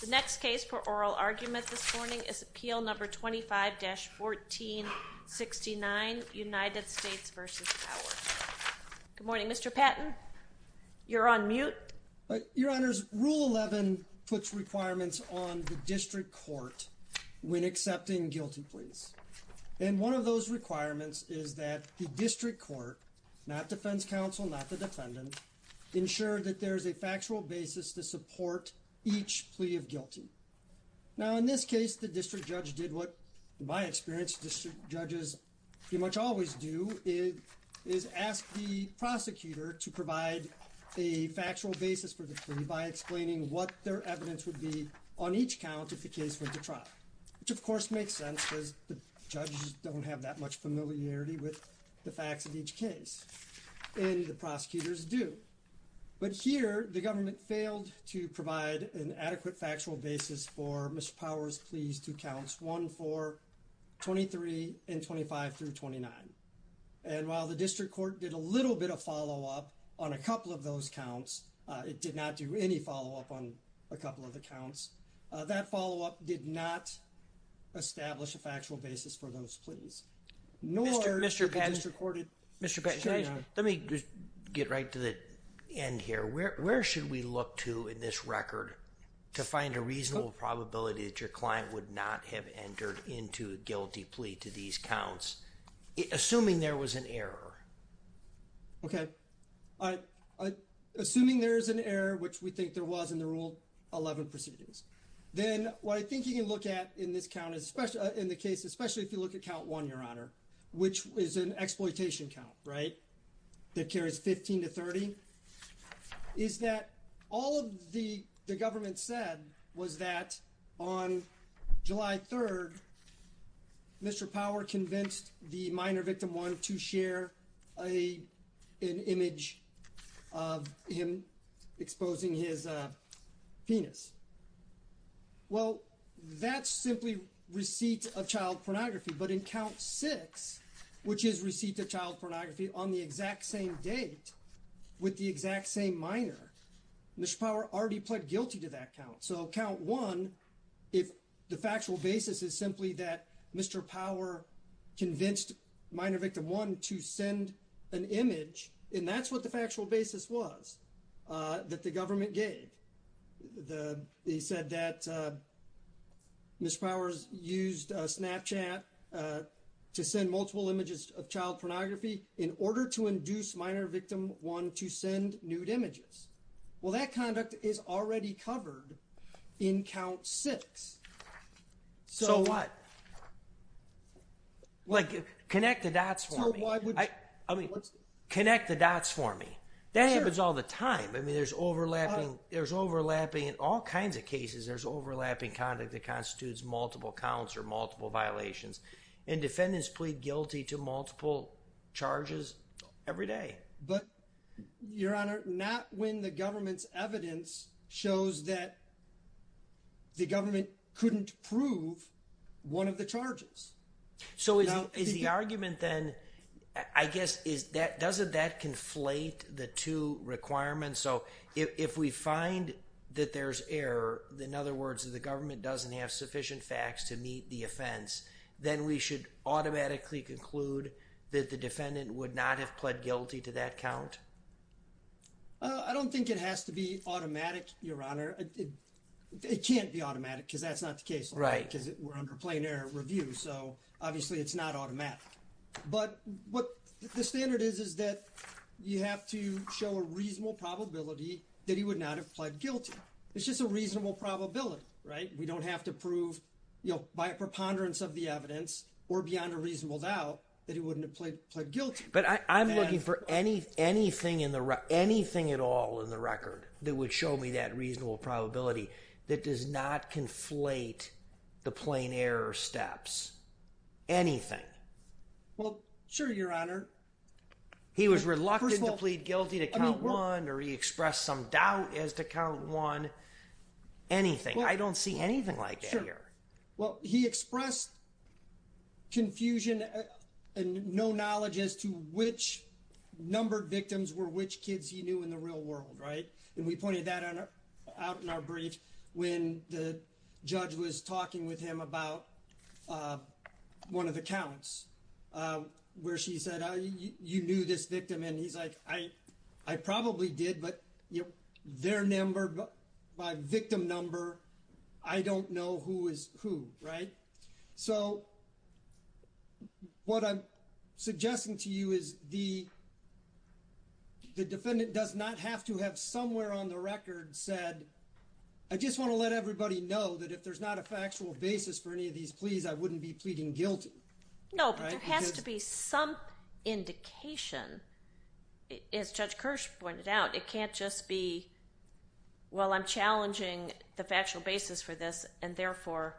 The next case for oral argument this morning is Appeal No. 25-1469, United States v. Power. Good morning, Mr. Patton. You're on mute. Your Honors, Rule 11 puts requirements on the district court when accepting guilty pleas. And one of those requirements is that the district court, not defense counsel, not the defendant, ensure that there's a factual basis to support each plea of guilty. Now, in this case, the district judge did what, in my experience, district judges pretty much always do, is ask the prosecutor to provide a factual basis for the plea by explaining what their evidence would be on each count if the case went to trial. Which, of course, makes sense because the judges don't have that much familiarity with the facts of each case. And the prosecutors do. But here, the government failed to provide an adequate factual basis for Mr. Power's pleas to counts 1, 4, 23, and 25-29. And while the district court did a little bit of follow-up on a couple of those counts, it did not do any follow-up on a couple of the counts, that follow-up did not establish a factual basis for those pleas. Mr. Patton, let me just get right to the end here. Where should we look to in this record to find a reasonable probability that your client would not have entered into a guilty plea to these counts, assuming there was an error? Okay. Assuming there is an error, which we think there was in the Rule 11 proceedings, then what I think you can look at in the case, especially if you look at count 1, Your Honor, which is an exploitation count, right, that carries 15-30, is that all of the government said was that on July 3rd, Mr. Power convinced the minor victim 1 to share an image of him exposing his penis. Well, that's simply receipt of child pornography, but in count 6, which is receipt of child pornography on the exact same date with the exact same minor, Mr. Power already pled guilty to that count. So count 1, if the factual basis is simply that Mr. Power convinced minor victim 1 to send an image, and that's what the factual basis was that the government gave. They said that Mr. Powers used Snapchat to send multiple images of child pornography in order to induce minor victim 1 to send nude images. Well, that conduct is already covered in count 6. So what? Like, connect the dots for me. I mean, connect the dots for me. That happens all the time. I mean, there's overlapping, there's overlapping in all kinds of cases, there's overlapping conduct that constitutes multiple counts or multiple violations, and defendants plead guilty to multiple charges every day. But, Your Honor, not when the government's evidence shows that the government couldn't prove one of the charges. So is the argument then, I guess, doesn't that conflate the two requirements? So if we find that there's error, in other words, that the government doesn't have sufficient facts to meet the offense, then we should automatically conclude that the defendant would not have pled guilty to that count? I don't think it has to be automatic, Your Honor. It can't be automatic because that's not the case. Right. Because we're under plain error review, so obviously it's not automatic. But what the standard is is that you have to show a reasonable probability that he would not have pled guilty. It's just a reasonable probability, right? We don't have to prove by a preponderance of the evidence or beyond a reasonable doubt that he wouldn't have pled guilty. But I'm looking for anything at all in the record that would show me that reasonable probability that does not conflate the plain error steps. Anything. Well, sure, Your Honor. He was reluctant to plead guilty to count one, or he expressed some doubt as to count one. Anything. I don't see anything like that here. Well, he expressed confusion and no knowledge as to which numbered victims were which kids he knew in the real world, right? And we pointed that out in our brief when the judge was talking with him about one of the counts where she said, you knew this victim, and he's like, I probably did, but their number, my victim number, I don't know who is who, right? So what I'm suggesting to you is the defendant does not have to have somewhere on the record said, I just want to let everybody know that if there's not a factual basis for any of these pleas, I wouldn't be pleading guilty. No, but there has to be some indication. As Judge Kirsch pointed out, it can't just be, well, I'm challenging the factual basis for this, and therefore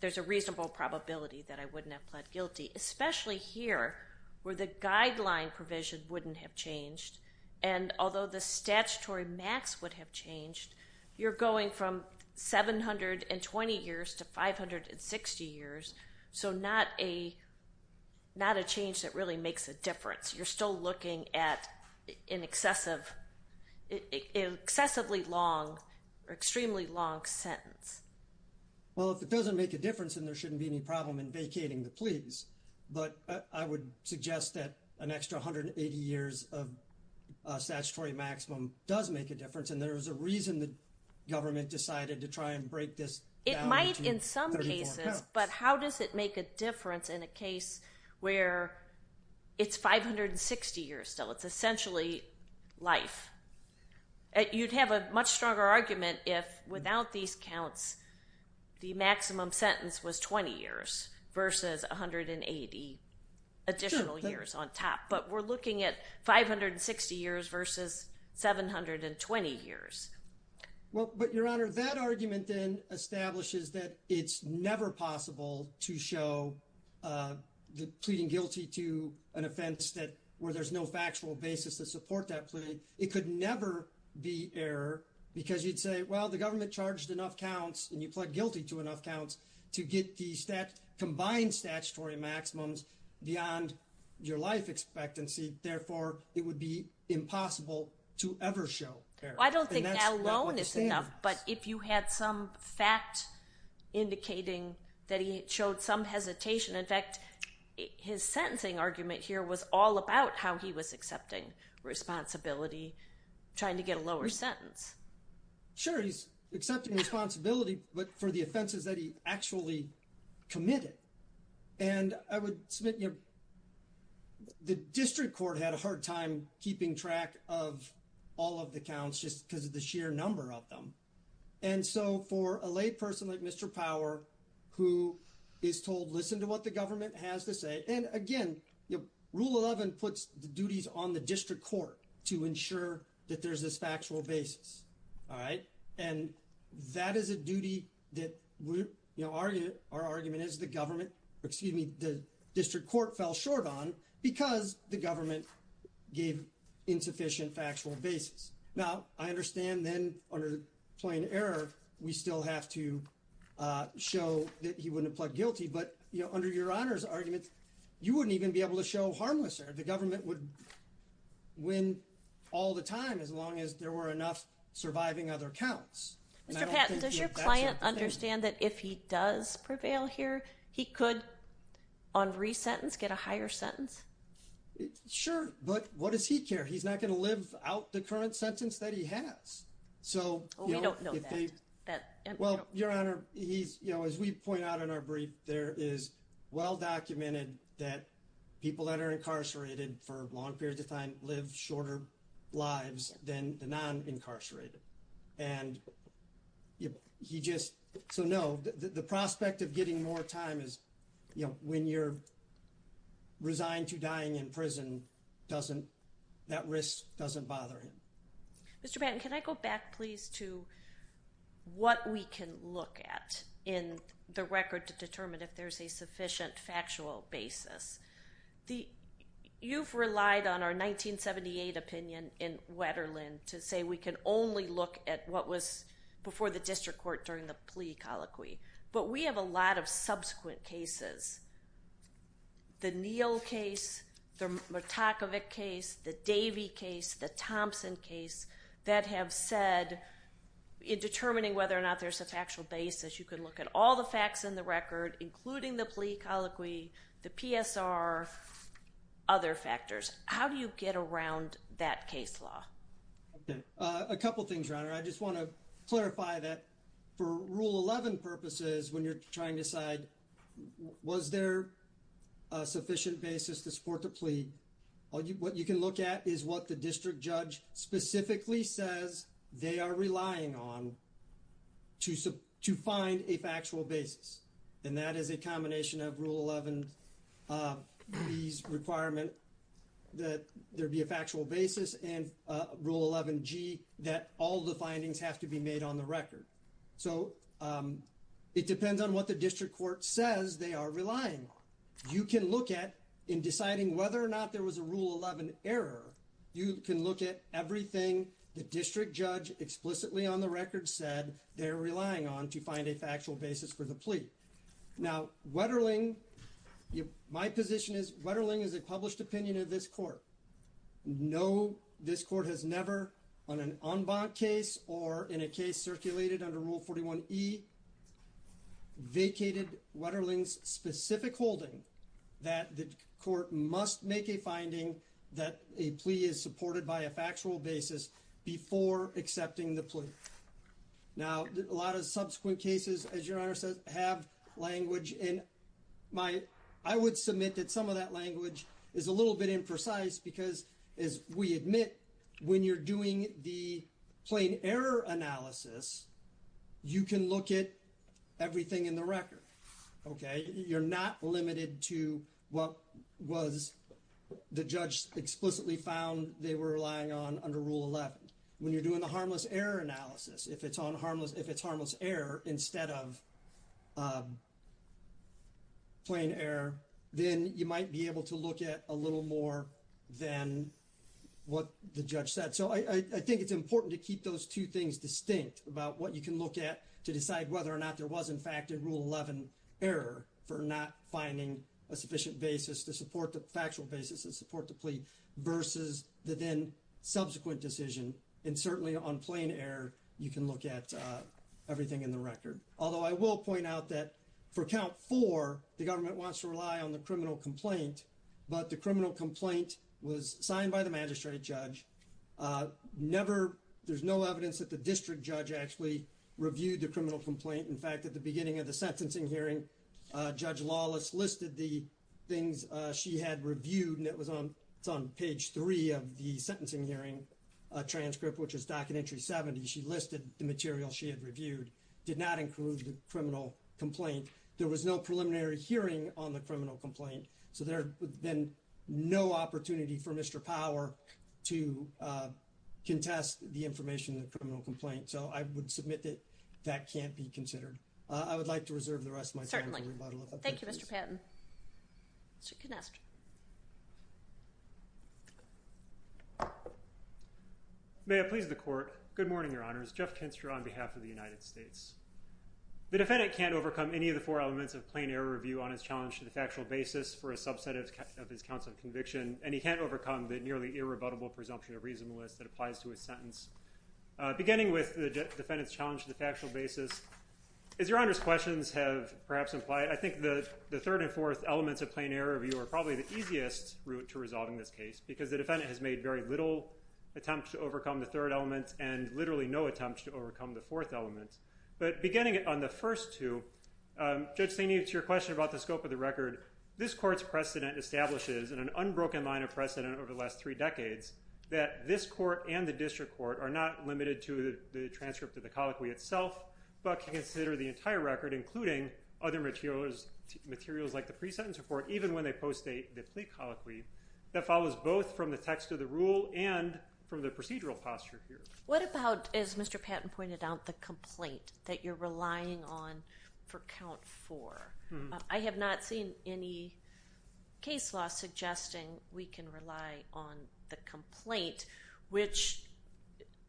there's a reasonable probability that I wouldn't have pled guilty, especially here where the guideline provision wouldn't have changed. And although the statutory max would have changed, you're going from 720 years to 560 years. So not a change that really makes a difference. You're still looking at an excessively long or extremely long sentence. Well, if it doesn't make a difference, then there shouldn't be any problem in vacating the pleas. But I would suggest that an extra 180 years of statutory maximum does make a difference, and there is a reason the government decided to try and break this down into 34 counts. It might in some cases, but how does it make a difference in a case where it's 560 years still? It's essentially life. You'd have a much stronger argument if without these counts the maximum sentence was 20 years versus 180 additional years on top. But we're looking at 560 years versus 720 years. Well, but, Your Honor, that argument then establishes that it's never possible to show the pleading guilty to an offense where there's no factual basis to support that plea. It could never be error because you'd say, well, the government charged enough counts, and you pled guilty to enough counts to get the combined statutory maximums beyond your life expectancy. Therefore, it would be impossible to ever show error. I don't think now alone is enough, but if you had some fact indicating that he showed some hesitation. In fact, his sentencing argument here was all about how he was accepting responsibility, trying to get a lower sentence. Sure, he's accepting responsibility, but for the offenses that he actually committed. And I would submit the district court had a hard time keeping track of all of the counts just because of the sheer number of them. And so for a lay person like Mr. Power, who is told, listen to what the government has to say. And again, Rule 11 puts the duties on the district court to ensure that there's this factual basis. And that is a duty that our argument is the government, excuse me, the district court fell short on because the government gave insufficient factual basis. Now, I understand then under plain error, we still have to show that he wouldn't have pled guilty. But under your honor's argument, you wouldn't even be able to show harmless error. The government would win all the time as long as there were enough surviving other counts. Mr. Patton, does your client understand that if he does prevail here, he could on resentence get a higher sentence? Sure. But what does he care? He's not going to live out the current sentence that he has. So we don't know that. Well, your honor, he's you know, as we point out in our brief, there is well documented that people that are incarcerated for long periods of time live shorter lives than the non incarcerated. And he just so know that the prospect of getting more time is, you know, when you're resigned to dying in prison, doesn't that risk doesn't bother him. Mr. Patton, can I go back please to what we can look at in the record to determine if there's a sufficient factual basis. You've relied on our 1978 opinion in Wetterlin to say we can only look at what was before the district court during the plea colloquy. But we have a lot of subsequent cases, the Neal case, the Murtakovic case, the Davey case, the Thompson case that have said in determining whether or not there's a factual basis. You can look at all the facts in the record, including the plea colloquy, the PSR, other factors. How do you get around that case law? A couple of things. I just want to clarify that for Rule 11 purposes, when you're trying to decide, was there a sufficient basis to support the plea? What you can look at is what the district judge specifically says they are relying on to find a factual basis. And that is a combination of Rule 11B's requirement that there be a factual basis and Rule 11G that all the findings have to be made on the record. So it depends on what the district court says they are relying on. You can look at, in deciding whether or not there was a Rule 11 error, you can look at everything the district judge explicitly on the record said they are relying on to find a factual basis for the plea. Now Wetterlin, my position is Wetterlin is a published opinion of this court. No, this court has never, on an en banc case or in a case circulated under Rule 41E, vacated Wetterlin's specific holding that the court must make a finding that a plea is supported by a factual basis before accepting the plea. Now, a lot of subsequent cases, as your Honor says, have language. And I would submit that some of that language is a little bit imprecise because, as we admit, when you're doing the plain error analysis, you can look at everything in the record. Okay? You're not limited to what was the judge explicitly found they were relying on under Rule 11. When you're doing the harmless error analysis, if it's harmless error instead of plain error, then you might be able to look at a little more than what the judge said. So I think it's important to keep those two things distinct about what you can look at to decide whether or not there was, in fact, a Rule 11 error for not finding a sufficient basis to support the factual basis to support the plea versus the then subsequent decision. And certainly on plain error, you can look at everything in the record. Although I will point out that for Count 4, the government wants to rely on the criminal complaint, but the criminal complaint was signed by the magistrate judge. There's no evidence that the district judge actually reviewed the criminal complaint. In fact, at the beginning of the sentencing hearing, Judge Lawless listed the things she had reviewed, and it's on page 3 of the sentencing hearing transcript, which is docket entry 70. She listed the material she had reviewed, did not include the criminal complaint. There was no preliminary hearing on the criminal complaint, so there has been no opportunity for Mr. Power to contest the information in the criminal complaint. So I would submit that that can't be considered. I would like to reserve the rest of my time to rebuttal. Certainly. Thank you, Mr. Patton. Mr. Canestra. May it please the court. Good morning, Your Honors. Jeff Canestra on behalf of the United States. The defendant can't overcome any of the four elements of plain error review on his challenge to the factual basis for a subset of his counts of conviction, and he can't overcome the nearly irrebuttable presumption of reasonableness that applies to his sentence. Beginning with the defendant's challenge to the factual basis, as Your Honors' questions have perhaps implied, I think the third and fourth elements of plain error review are probably the easiest route to resolving this case, because the defendant has made very little attempt to overcome the third element and literally no attempt to overcome the fourth element. But beginning on the first two, Judge Staney, to your question about the scope of the record, this court's precedent establishes in an unbroken line of precedent over the last three decades that this court and the district court are not limited to the transcript of the colloquy itself, but can consider the entire record, including other materials like the pre-sentence report, even when they post the plea colloquy that follows both from the text of the rule and from the procedural posture here. What about, as Mr. Patton pointed out, the complaint that you're relying on for count four? I have not seen any case law suggesting we can rely on the complaint, which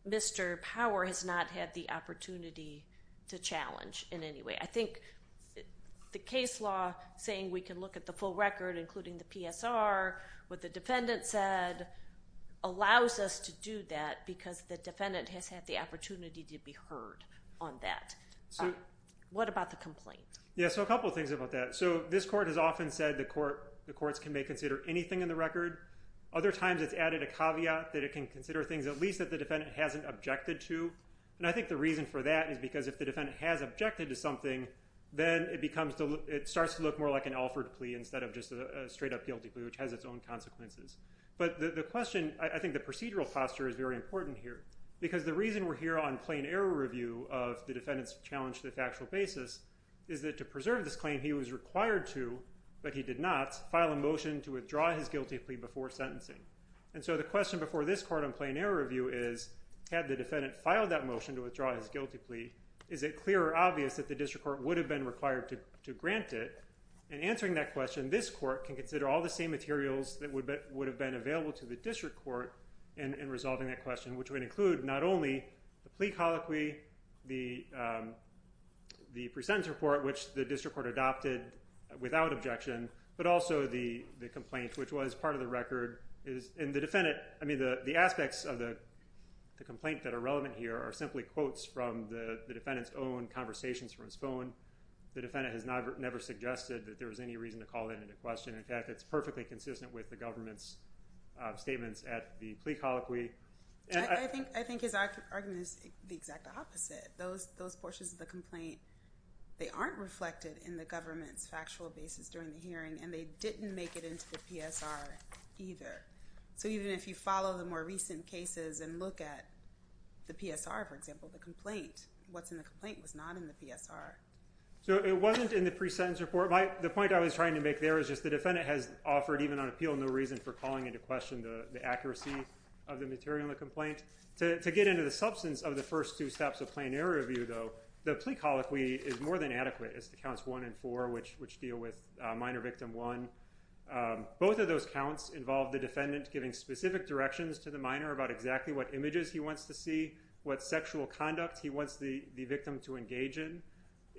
Mr. Power has not had the opportunity to challenge in any way. I think the case law saying we can look at the full record, including the PSR, what the defendant said, allows us to do that because the defendant has had the opportunity to be heard on that. What about the complaint? Yes, so a couple of things about that. This court has often said the courts can may consider anything in the record. Other times it's added a caveat that it can consider things at least that the defendant hasn't objected to, and I think the reason for that is because if the defendant has objected to something, then it starts to look more like an offered plea instead of just a straight up guilty plea, which has its own consequences. But the question, I think the procedural posture is very important here because the reason we're here on plain error review of the defendant's challenge to the factual basis is that to preserve this claim, he was required to, but he did not, file a motion to withdraw his guilty plea before sentencing. And so the question before this court on plain error review is, had the defendant filed that motion to withdraw his guilty plea, is it clear or obvious that the district court would have been required to grant it? And answering that question, this court can consider all the same materials that would have been available to the district court in resolving that question, which would include not only the plea colloquy, the pre-sentence report, which the district court adopted without objection, but also the complaint, which was part of the record. And the defendant, I mean, the aspects of the complaint that are relevant here are simply quotes from the defendant's own conversations from his phone. The defendant has never suggested that there was any reason to call that into question. In fact, it's perfectly consistent with the government's statements at the plea colloquy. I think his argument is the exact opposite. Those portions of the complaint, they aren't reflected in the government's factual basis during the hearing, and they didn't make it into the PSR either. So even if you follow the more recent cases and look at the PSR, for example, the complaint, what's in the complaint was not in the PSR. So it wasn't in the pre-sentence report. The point I was trying to make there is just the defendant has offered, even on appeal, no reason for calling into question the accuracy of the material To get into the substance of the first two steps of plain error review, though, the plea colloquy is more than adequate. It's the counts one and four, which deal with minor victim one. Both of those counts involve the defendant giving specific directions to the minor about exactly what images he wants to see, what sexual conduct he wants the victim to engage in.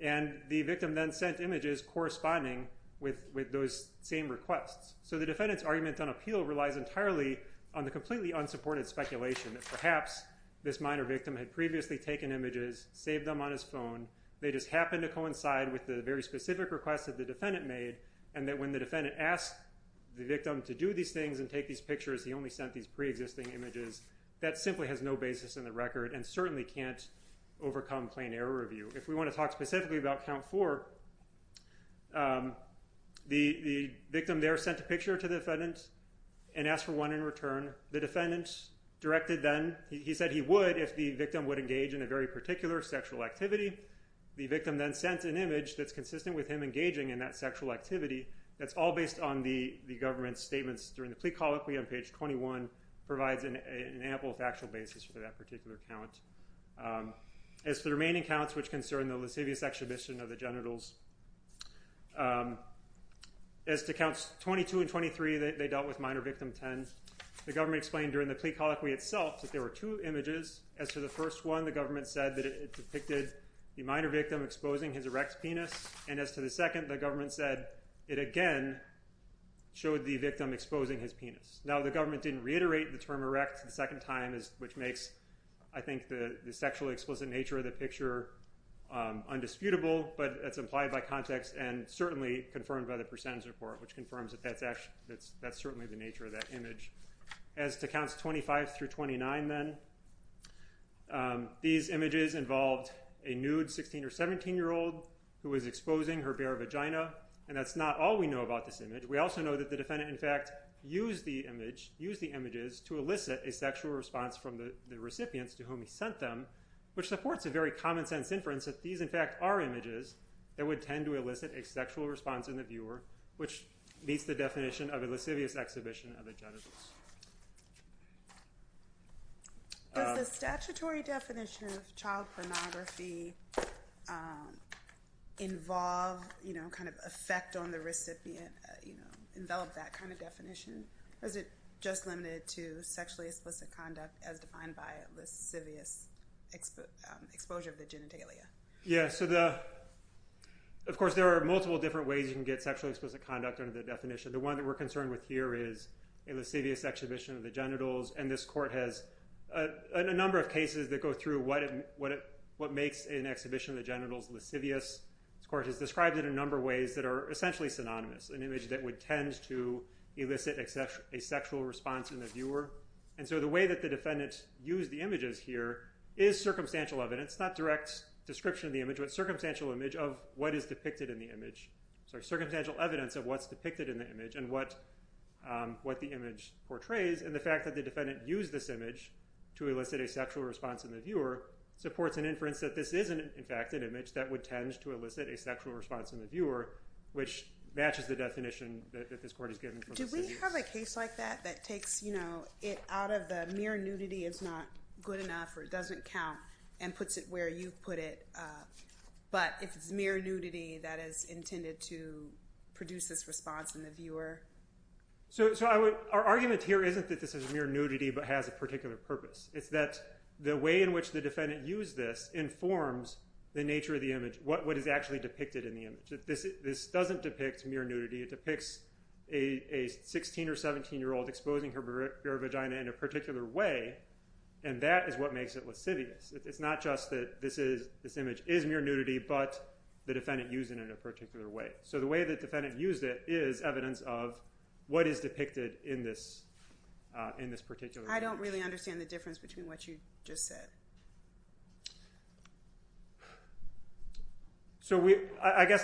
And the victim then sent images corresponding with those same requests. So the defendant's argument on appeal relies entirely on the completely unsupported speculation that perhaps this minor victim had previously taken images, saved them on his phone, they just happened to coincide with the very specific request that the defendant made, and that when the defendant asked the victim to do these things and take these pictures, he only sent these pre-existing images. That simply has no basis in the record and certainly can't overcome plain error review. If we want to talk specifically about count four, the victim there sent a picture to the defendant and asked for one in return. The defendant directed then, he said he would if the victim would engage in a very particular sexual activity. The victim then sent an image that's consistent with him engaging in that sexual activity. That's all based on the government's statements during the plea colloquy on page 21, provides an ample factual basis for that particular count. As for the remaining counts which concern the lascivious extradition of the genitals, as to counts 22 and 23, they dealt with minor victim 10. The government explained during the plea colloquy itself that there were two images. As to the first one, the government said that it depicted the minor victim exposing his erect penis, and as to the second, the government said it again showed the victim exposing his penis. Now the government didn't reiterate the term erect the second time, which makes I think the sexually explicit nature of the picture undisputable, but it's implied by context and certainly confirmed by the percentage report, which confirms that that's certainly the nature of that image. As to counts 25 through 29 then, these images involved a nude 16 or 17-year-old who was exposing her bare vagina, and that's not all we know about this image. We also know that the defendant in fact used the images to elicit a sexual response from the recipients to whom he sent them, which supports a very common sense inference that these in fact are images that would tend to elicit a sexual response in the viewer, which meets the definition of a lascivious exhibition of the genitals. Does the statutory definition of child pornography involve kind of effect on the recipient, envelop that kind of definition, or is it just limited to sexually explicit conduct as defined by a lascivious exposure of the genitalia? Yeah, so of course there are multiple different ways you can get sexually explicit conduct under the definition. The one that we're concerned with here is a lascivious exhibition of the genitals, and this court has a number of cases that go through what makes an exhibition of the genitals lascivious. This court has described it in a number of ways that are essentially synonymous, an image that would tend to elicit a sexual response in the viewer. And so the way that the defendant used the images here is circumstantial evidence, not direct description of the image, but circumstantial image of what is depicted in the image. Sorry, circumstantial evidence of what's depicted in the image and what the image portrays, and the fact that the defendant used this image to elicit a sexual response in the viewer supports an inference that this is in fact an image that would tend to elicit a sexual response in the viewer, which matches the definition that this court has given for lascivious. Do we have a case like that that takes it out of the mere nudity is not good enough or doesn't count and puts it where you put it, but it's mere nudity that is intended to produce this response in the viewer? So our argument here isn't that this is mere nudity but has a particular purpose. It's that the way in which the defendant used this informs the nature of the image, what is actually depicted in the image. This doesn't depict mere nudity. It depicts a 16- or 17-year-old exposing her vagina in a particular way, and that is what makes it lascivious. It's not just that this image is mere nudity but the defendant used it in a particular way. So the way the defendant used it is evidence of what is depicted in this particular image. I don't really understand the difference between what you just said. So I guess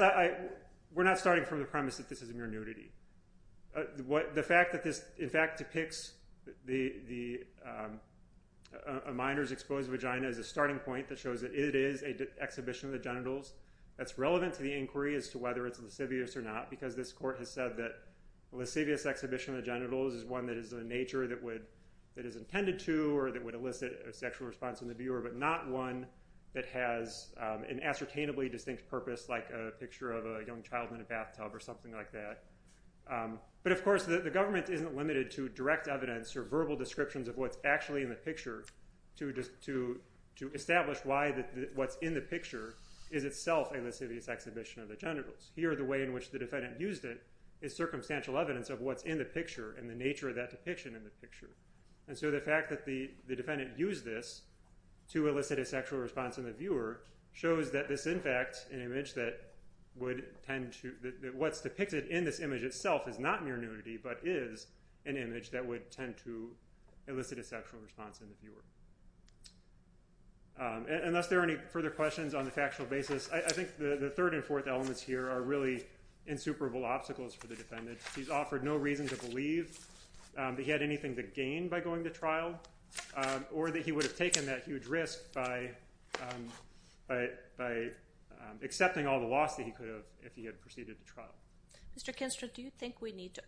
we're not starting from the premise that this is mere nudity. The fact that this, in fact, depicts a minor's exposed vagina is a starting point that shows that it is an exhibition of the genitals. That's relevant to the inquiry as to whether it's lascivious or not because this court has said that a lascivious exhibition of the genitals is one that is a nature that is intended to or that would elicit a sexual response in the viewer but not one that has an ascertainably distinct purpose like a picture of a young child in a bathtub or something like that. But, of course, the government isn't limited to direct evidence or verbal descriptions of what's actually in the picture to establish why what's in the picture is itself a lascivious exhibition of the genitals. Here, the way in which the defendant used it is circumstantial evidence of what's in the picture and the nature of that depiction in the picture. And so the fact that the defendant used this to elicit a sexual response in the viewer shows that this, in fact, what's depicted in this image itself is not mere nudity but is an image that would tend to elicit a sexual response in the viewer. Unless there are any further questions on the factual basis, I think the third and fourth elements here are really insuperable obstacles for the defendant. He's offered no reason to believe that he had anything to gain by going to trial or that he would have taken that huge risk by accepting all the loss that he could have if he had proceeded to trial. Mr. Kinstra, do you think we need to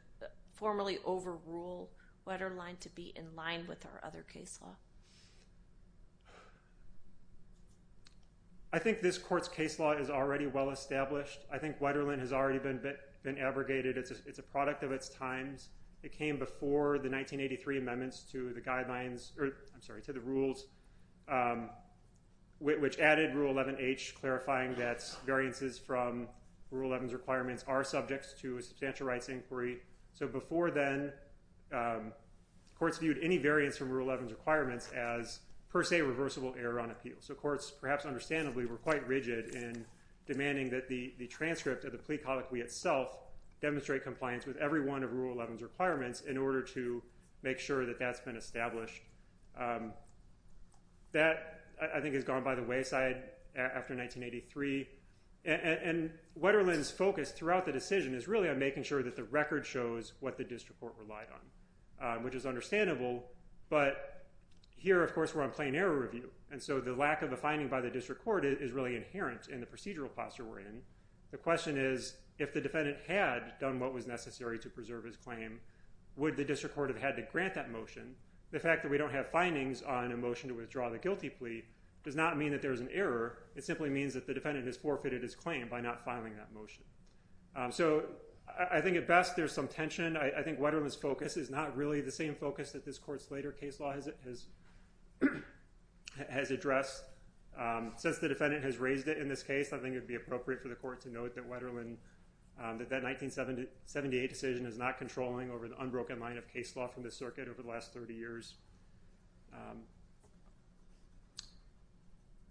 formally overrule Wetterlein to be in line with our other case law? I think this court's case law is already well established. I think Wetterlein has already been abrogated. It's a product of its times. It came before the 1983 amendments to the rules, which added Rule 11H, clarifying that variances from Rule 11's requirements are subject to a substantial rights inquiry. So before then, courts viewed any variance from Rule 11's requirements as per se reversible error on appeal. So courts, perhaps understandably, were quite rigid in demanding that the transcript of the plea colloquy itself demonstrate compliance with every one of Rule 11's requirements in order to make sure that that's been established. That, I think, has gone by the wayside after 1983. And Wetterlein's focus throughout the decision is really on making sure that the record shows what the district court relied on, which is understandable. But here, of course, we're on plain error review. And so the lack of a finding by the district court is really inherent in the procedural posture we're in. The question is, if the defendant had done what was necessary to preserve his claim, would the district court have had to grant that motion? The fact that we don't have findings on a motion to withdraw the guilty plea does not mean that there is an error. It simply means that the defendant has forfeited his claim by not filing that motion. So I think at best there's some tension. I think Wetterlein's focus is not really the same focus that this court's later case law has addressed. Since the defendant has raised it in this case, I think it would be appropriate for the court to note that Wetterlein, that that 1978 decision is not controlling over the unbroken line of case law from the circuit over the last 30 years.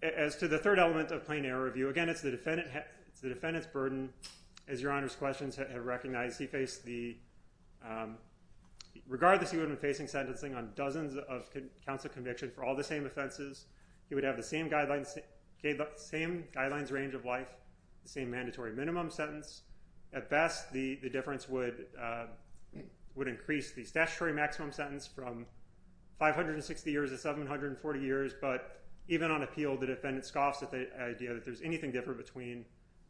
As to the third element of plain error review, again, it's the defendant's burden. As Your Honor's questions have recognized, he faced the— regardless, he would have been facing sentencing on dozens of counts of conviction for all the same offenses. He would have the same guidelines range of life, the same mandatory minimum sentence. At best, the difference would increase the statutory maximum sentence from 560 years to 740 years. But even on appeal, the defendant scoffs at the idea that there's anything different between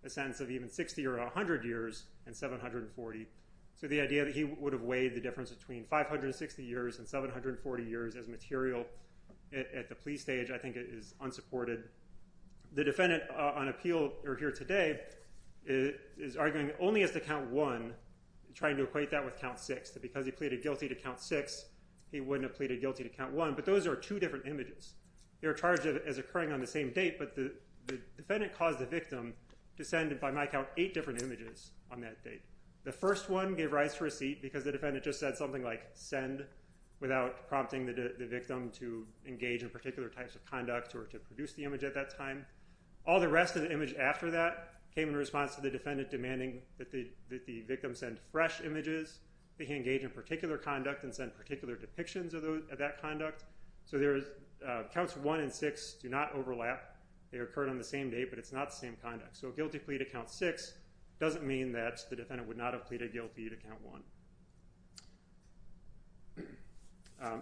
a sentence of even 60 or 100 years and 740. So the idea that he would have weighed the difference between 560 years and 740 years as material at the plea stage, I think, is unsupported. The defendant on appeal here today is arguing only as to count one, trying to equate that with count six, that because he pleaded guilty to count six, he wouldn't have pleaded guilty to count one. But those are two different images. They're charged as occurring on the same date, but the defendant caused the victim to send, by my count, eight different images on that date. The first one gave rise to receipt because the defendant just said something like, send, without prompting the victim to engage in particular types of conduct or to produce the image at that time. All the rest of the image after that came in response to the defendant demanding that the victim send fresh images, that he engage in particular conduct and send particular depictions of that conduct. So counts one and six do not overlap. They occurred on the same date, but it's not the same conduct. So a guilty plea to count six doesn't mean that the defendant would not have pleaded guilty to count one.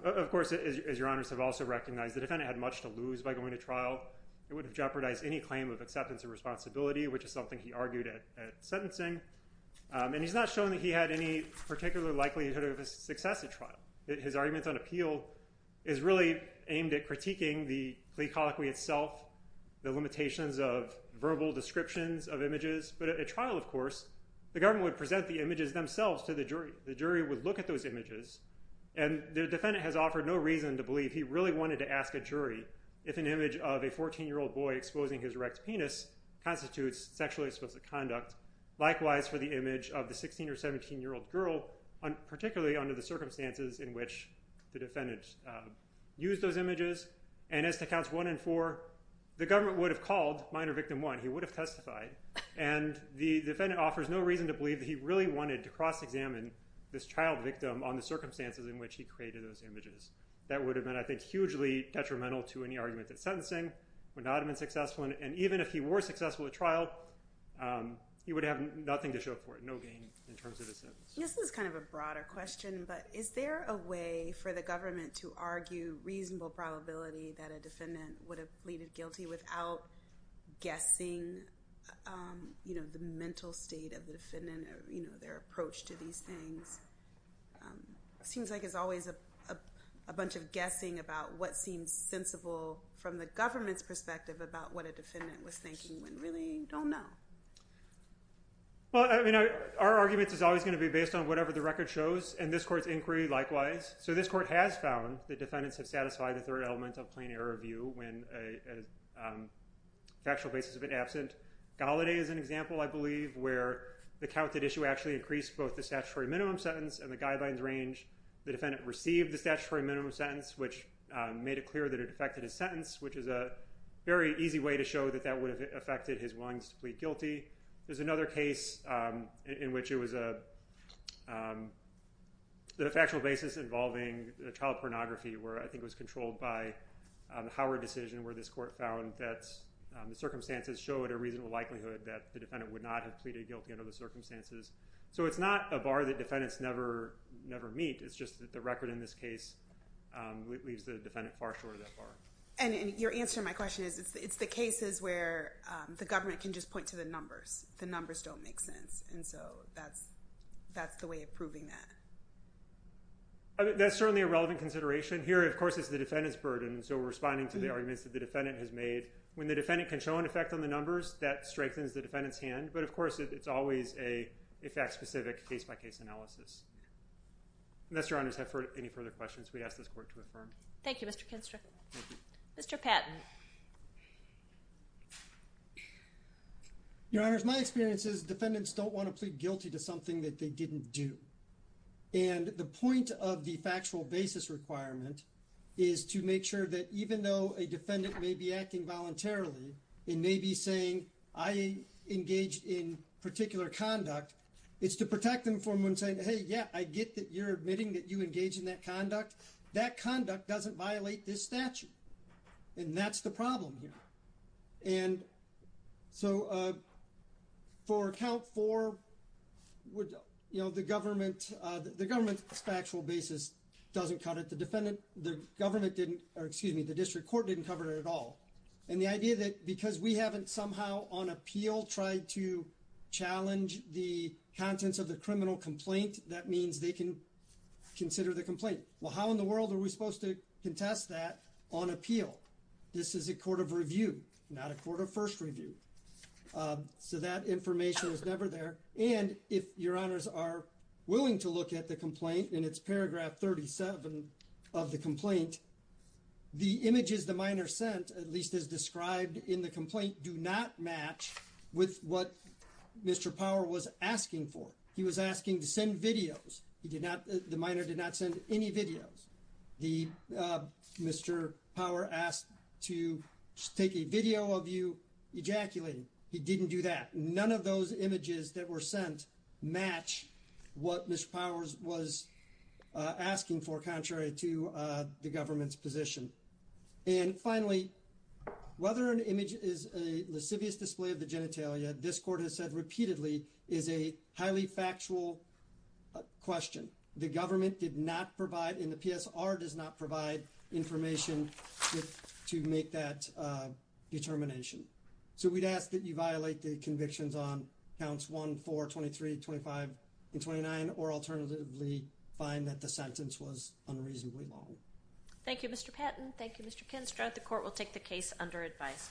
Of course, as your honors have also recognized, the defendant had much to lose by going to trial. It would have jeopardized any claim of acceptance of responsibility, which is something he argued at sentencing. And he's not showing that he had any particular likelihood of success at trial. His argument on appeal is really aimed at critiquing the plea colloquy itself, the limitations of verbal descriptions of images. But at trial, of course, the government would present the images themselves to the jury. The jury would look at those images, and the defendant has offered no reason to believe he really wanted to ask a jury if an image of a 14-year-old boy exposing his erect penis constitutes sexually explicit conduct. Likewise for the image of the 16- or 17-year-old girl, particularly under the circumstances in which the defendant used those images. And as to counts one and four, the government would have called minor victim one. He would have testified. And the defendant offers no reason to believe that he really wanted to cross-examine this child victim on the circumstances in which he created those images. That would have been, I think, hugely detrimental to any argument at sentencing, would not have been successful. And even if he were successful at trial, he would have nothing to show for it, no gain in terms of his sentence. This is kind of a broader question, but is there a way for the government to argue reasonable probability that a defendant would have pleaded guilty without guessing the mental state of the defendant or their approach to these things? It seems like there's always a bunch of guessing about what seems sensible from the government's perspective about what a defendant was thinking when really you don't know. Well, I mean, our argument is always going to be based on whatever the record shows, and this court's inquiry likewise. So this court has found that defendants have satisfied the third element of plain error view when a factual basis of an absent. Gallaudet is an example, I believe, where the counted issue actually increased both the statutory minimum sentence and the guidelines range. The defendant received the statutory minimum sentence, which made it clear that it affected his sentence, which is a very easy way to show that that would have affected his willingness to plead guilty. There's another case in which it was a factual basis involving child pornography, where I think it was controlled by the Howard decision, where this court found that the circumstances showed a reasonable likelihood that the defendant would not have pleaded guilty under the circumstances. So it's not a bar that defendants never meet. It's just that the record in this case leaves the defendant far short of that bar. And your answer to my question is it's the cases where the government can just point to the numbers. The numbers don't make sense, and so that's the way of proving that. That's certainly a relevant consideration. Here, of course, it's the defendant's burden, so responding to the arguments that the defendant has made. When the defendant can show an effect on the numbers, that strengthens the defendant's hand. But, of course, it's always a fact-specific case-by-case analysis. Unless Your Honors have any further questions, we ask this court to affirm. Thank you, Mr. Kinster. Mr. Patton. Your Honors, my experience is defendants don't want to plead guilty to something that they didn't do. And the point of the factual basis requirement is to make sure that even though a defendant may be acting voluntarily and may be saying, I engaged in particular conduct, it's to protect them from saying, hey, yeah, I get that you're admitting that you engaged in that conduct. That conduct doesn't violate this statute, and that's the problem here. And so for account four, you know, the government's factual basis doesn't cut it. The defendant, the government didn't, or excuse me, the district court didn't cover it at all. And the idea that because we haven't somehow on appeal tried to challenge the contents of the criminal complaint, that means they can consider the complaint. Well, how in the world are we supposed to contest that on appeal? This is a court of review, not a court of first review. So that information was never there. And if Your Honors are willing to look at the complaint in its paragraph 37 of the complaint, the images the minor sent, at least as described in the complaint, do not match with what Mr. Power was asking for. He was asking to send videos. He did not, the minor did not send any videos. Mr. Power asked to take a video of you ejaculating. He didn't do that. None of those images that were sent match what Mr. Powers was asking for, contrary to the government's position. And finally, whether an image is a lascivious display of the genitalia, this court has said repeatedly, is a highly factual question. The government did not provide, and the PSR does not provide information to make that determination. So we'd ask that you violate the convictions on counts 1, 4, 23, 25, and 29, or alternatively find that the sentence was unreasonably long. Thank you, Mr. Patton. Thank you, Mr. Kinstrad. The court will take the case under advisement.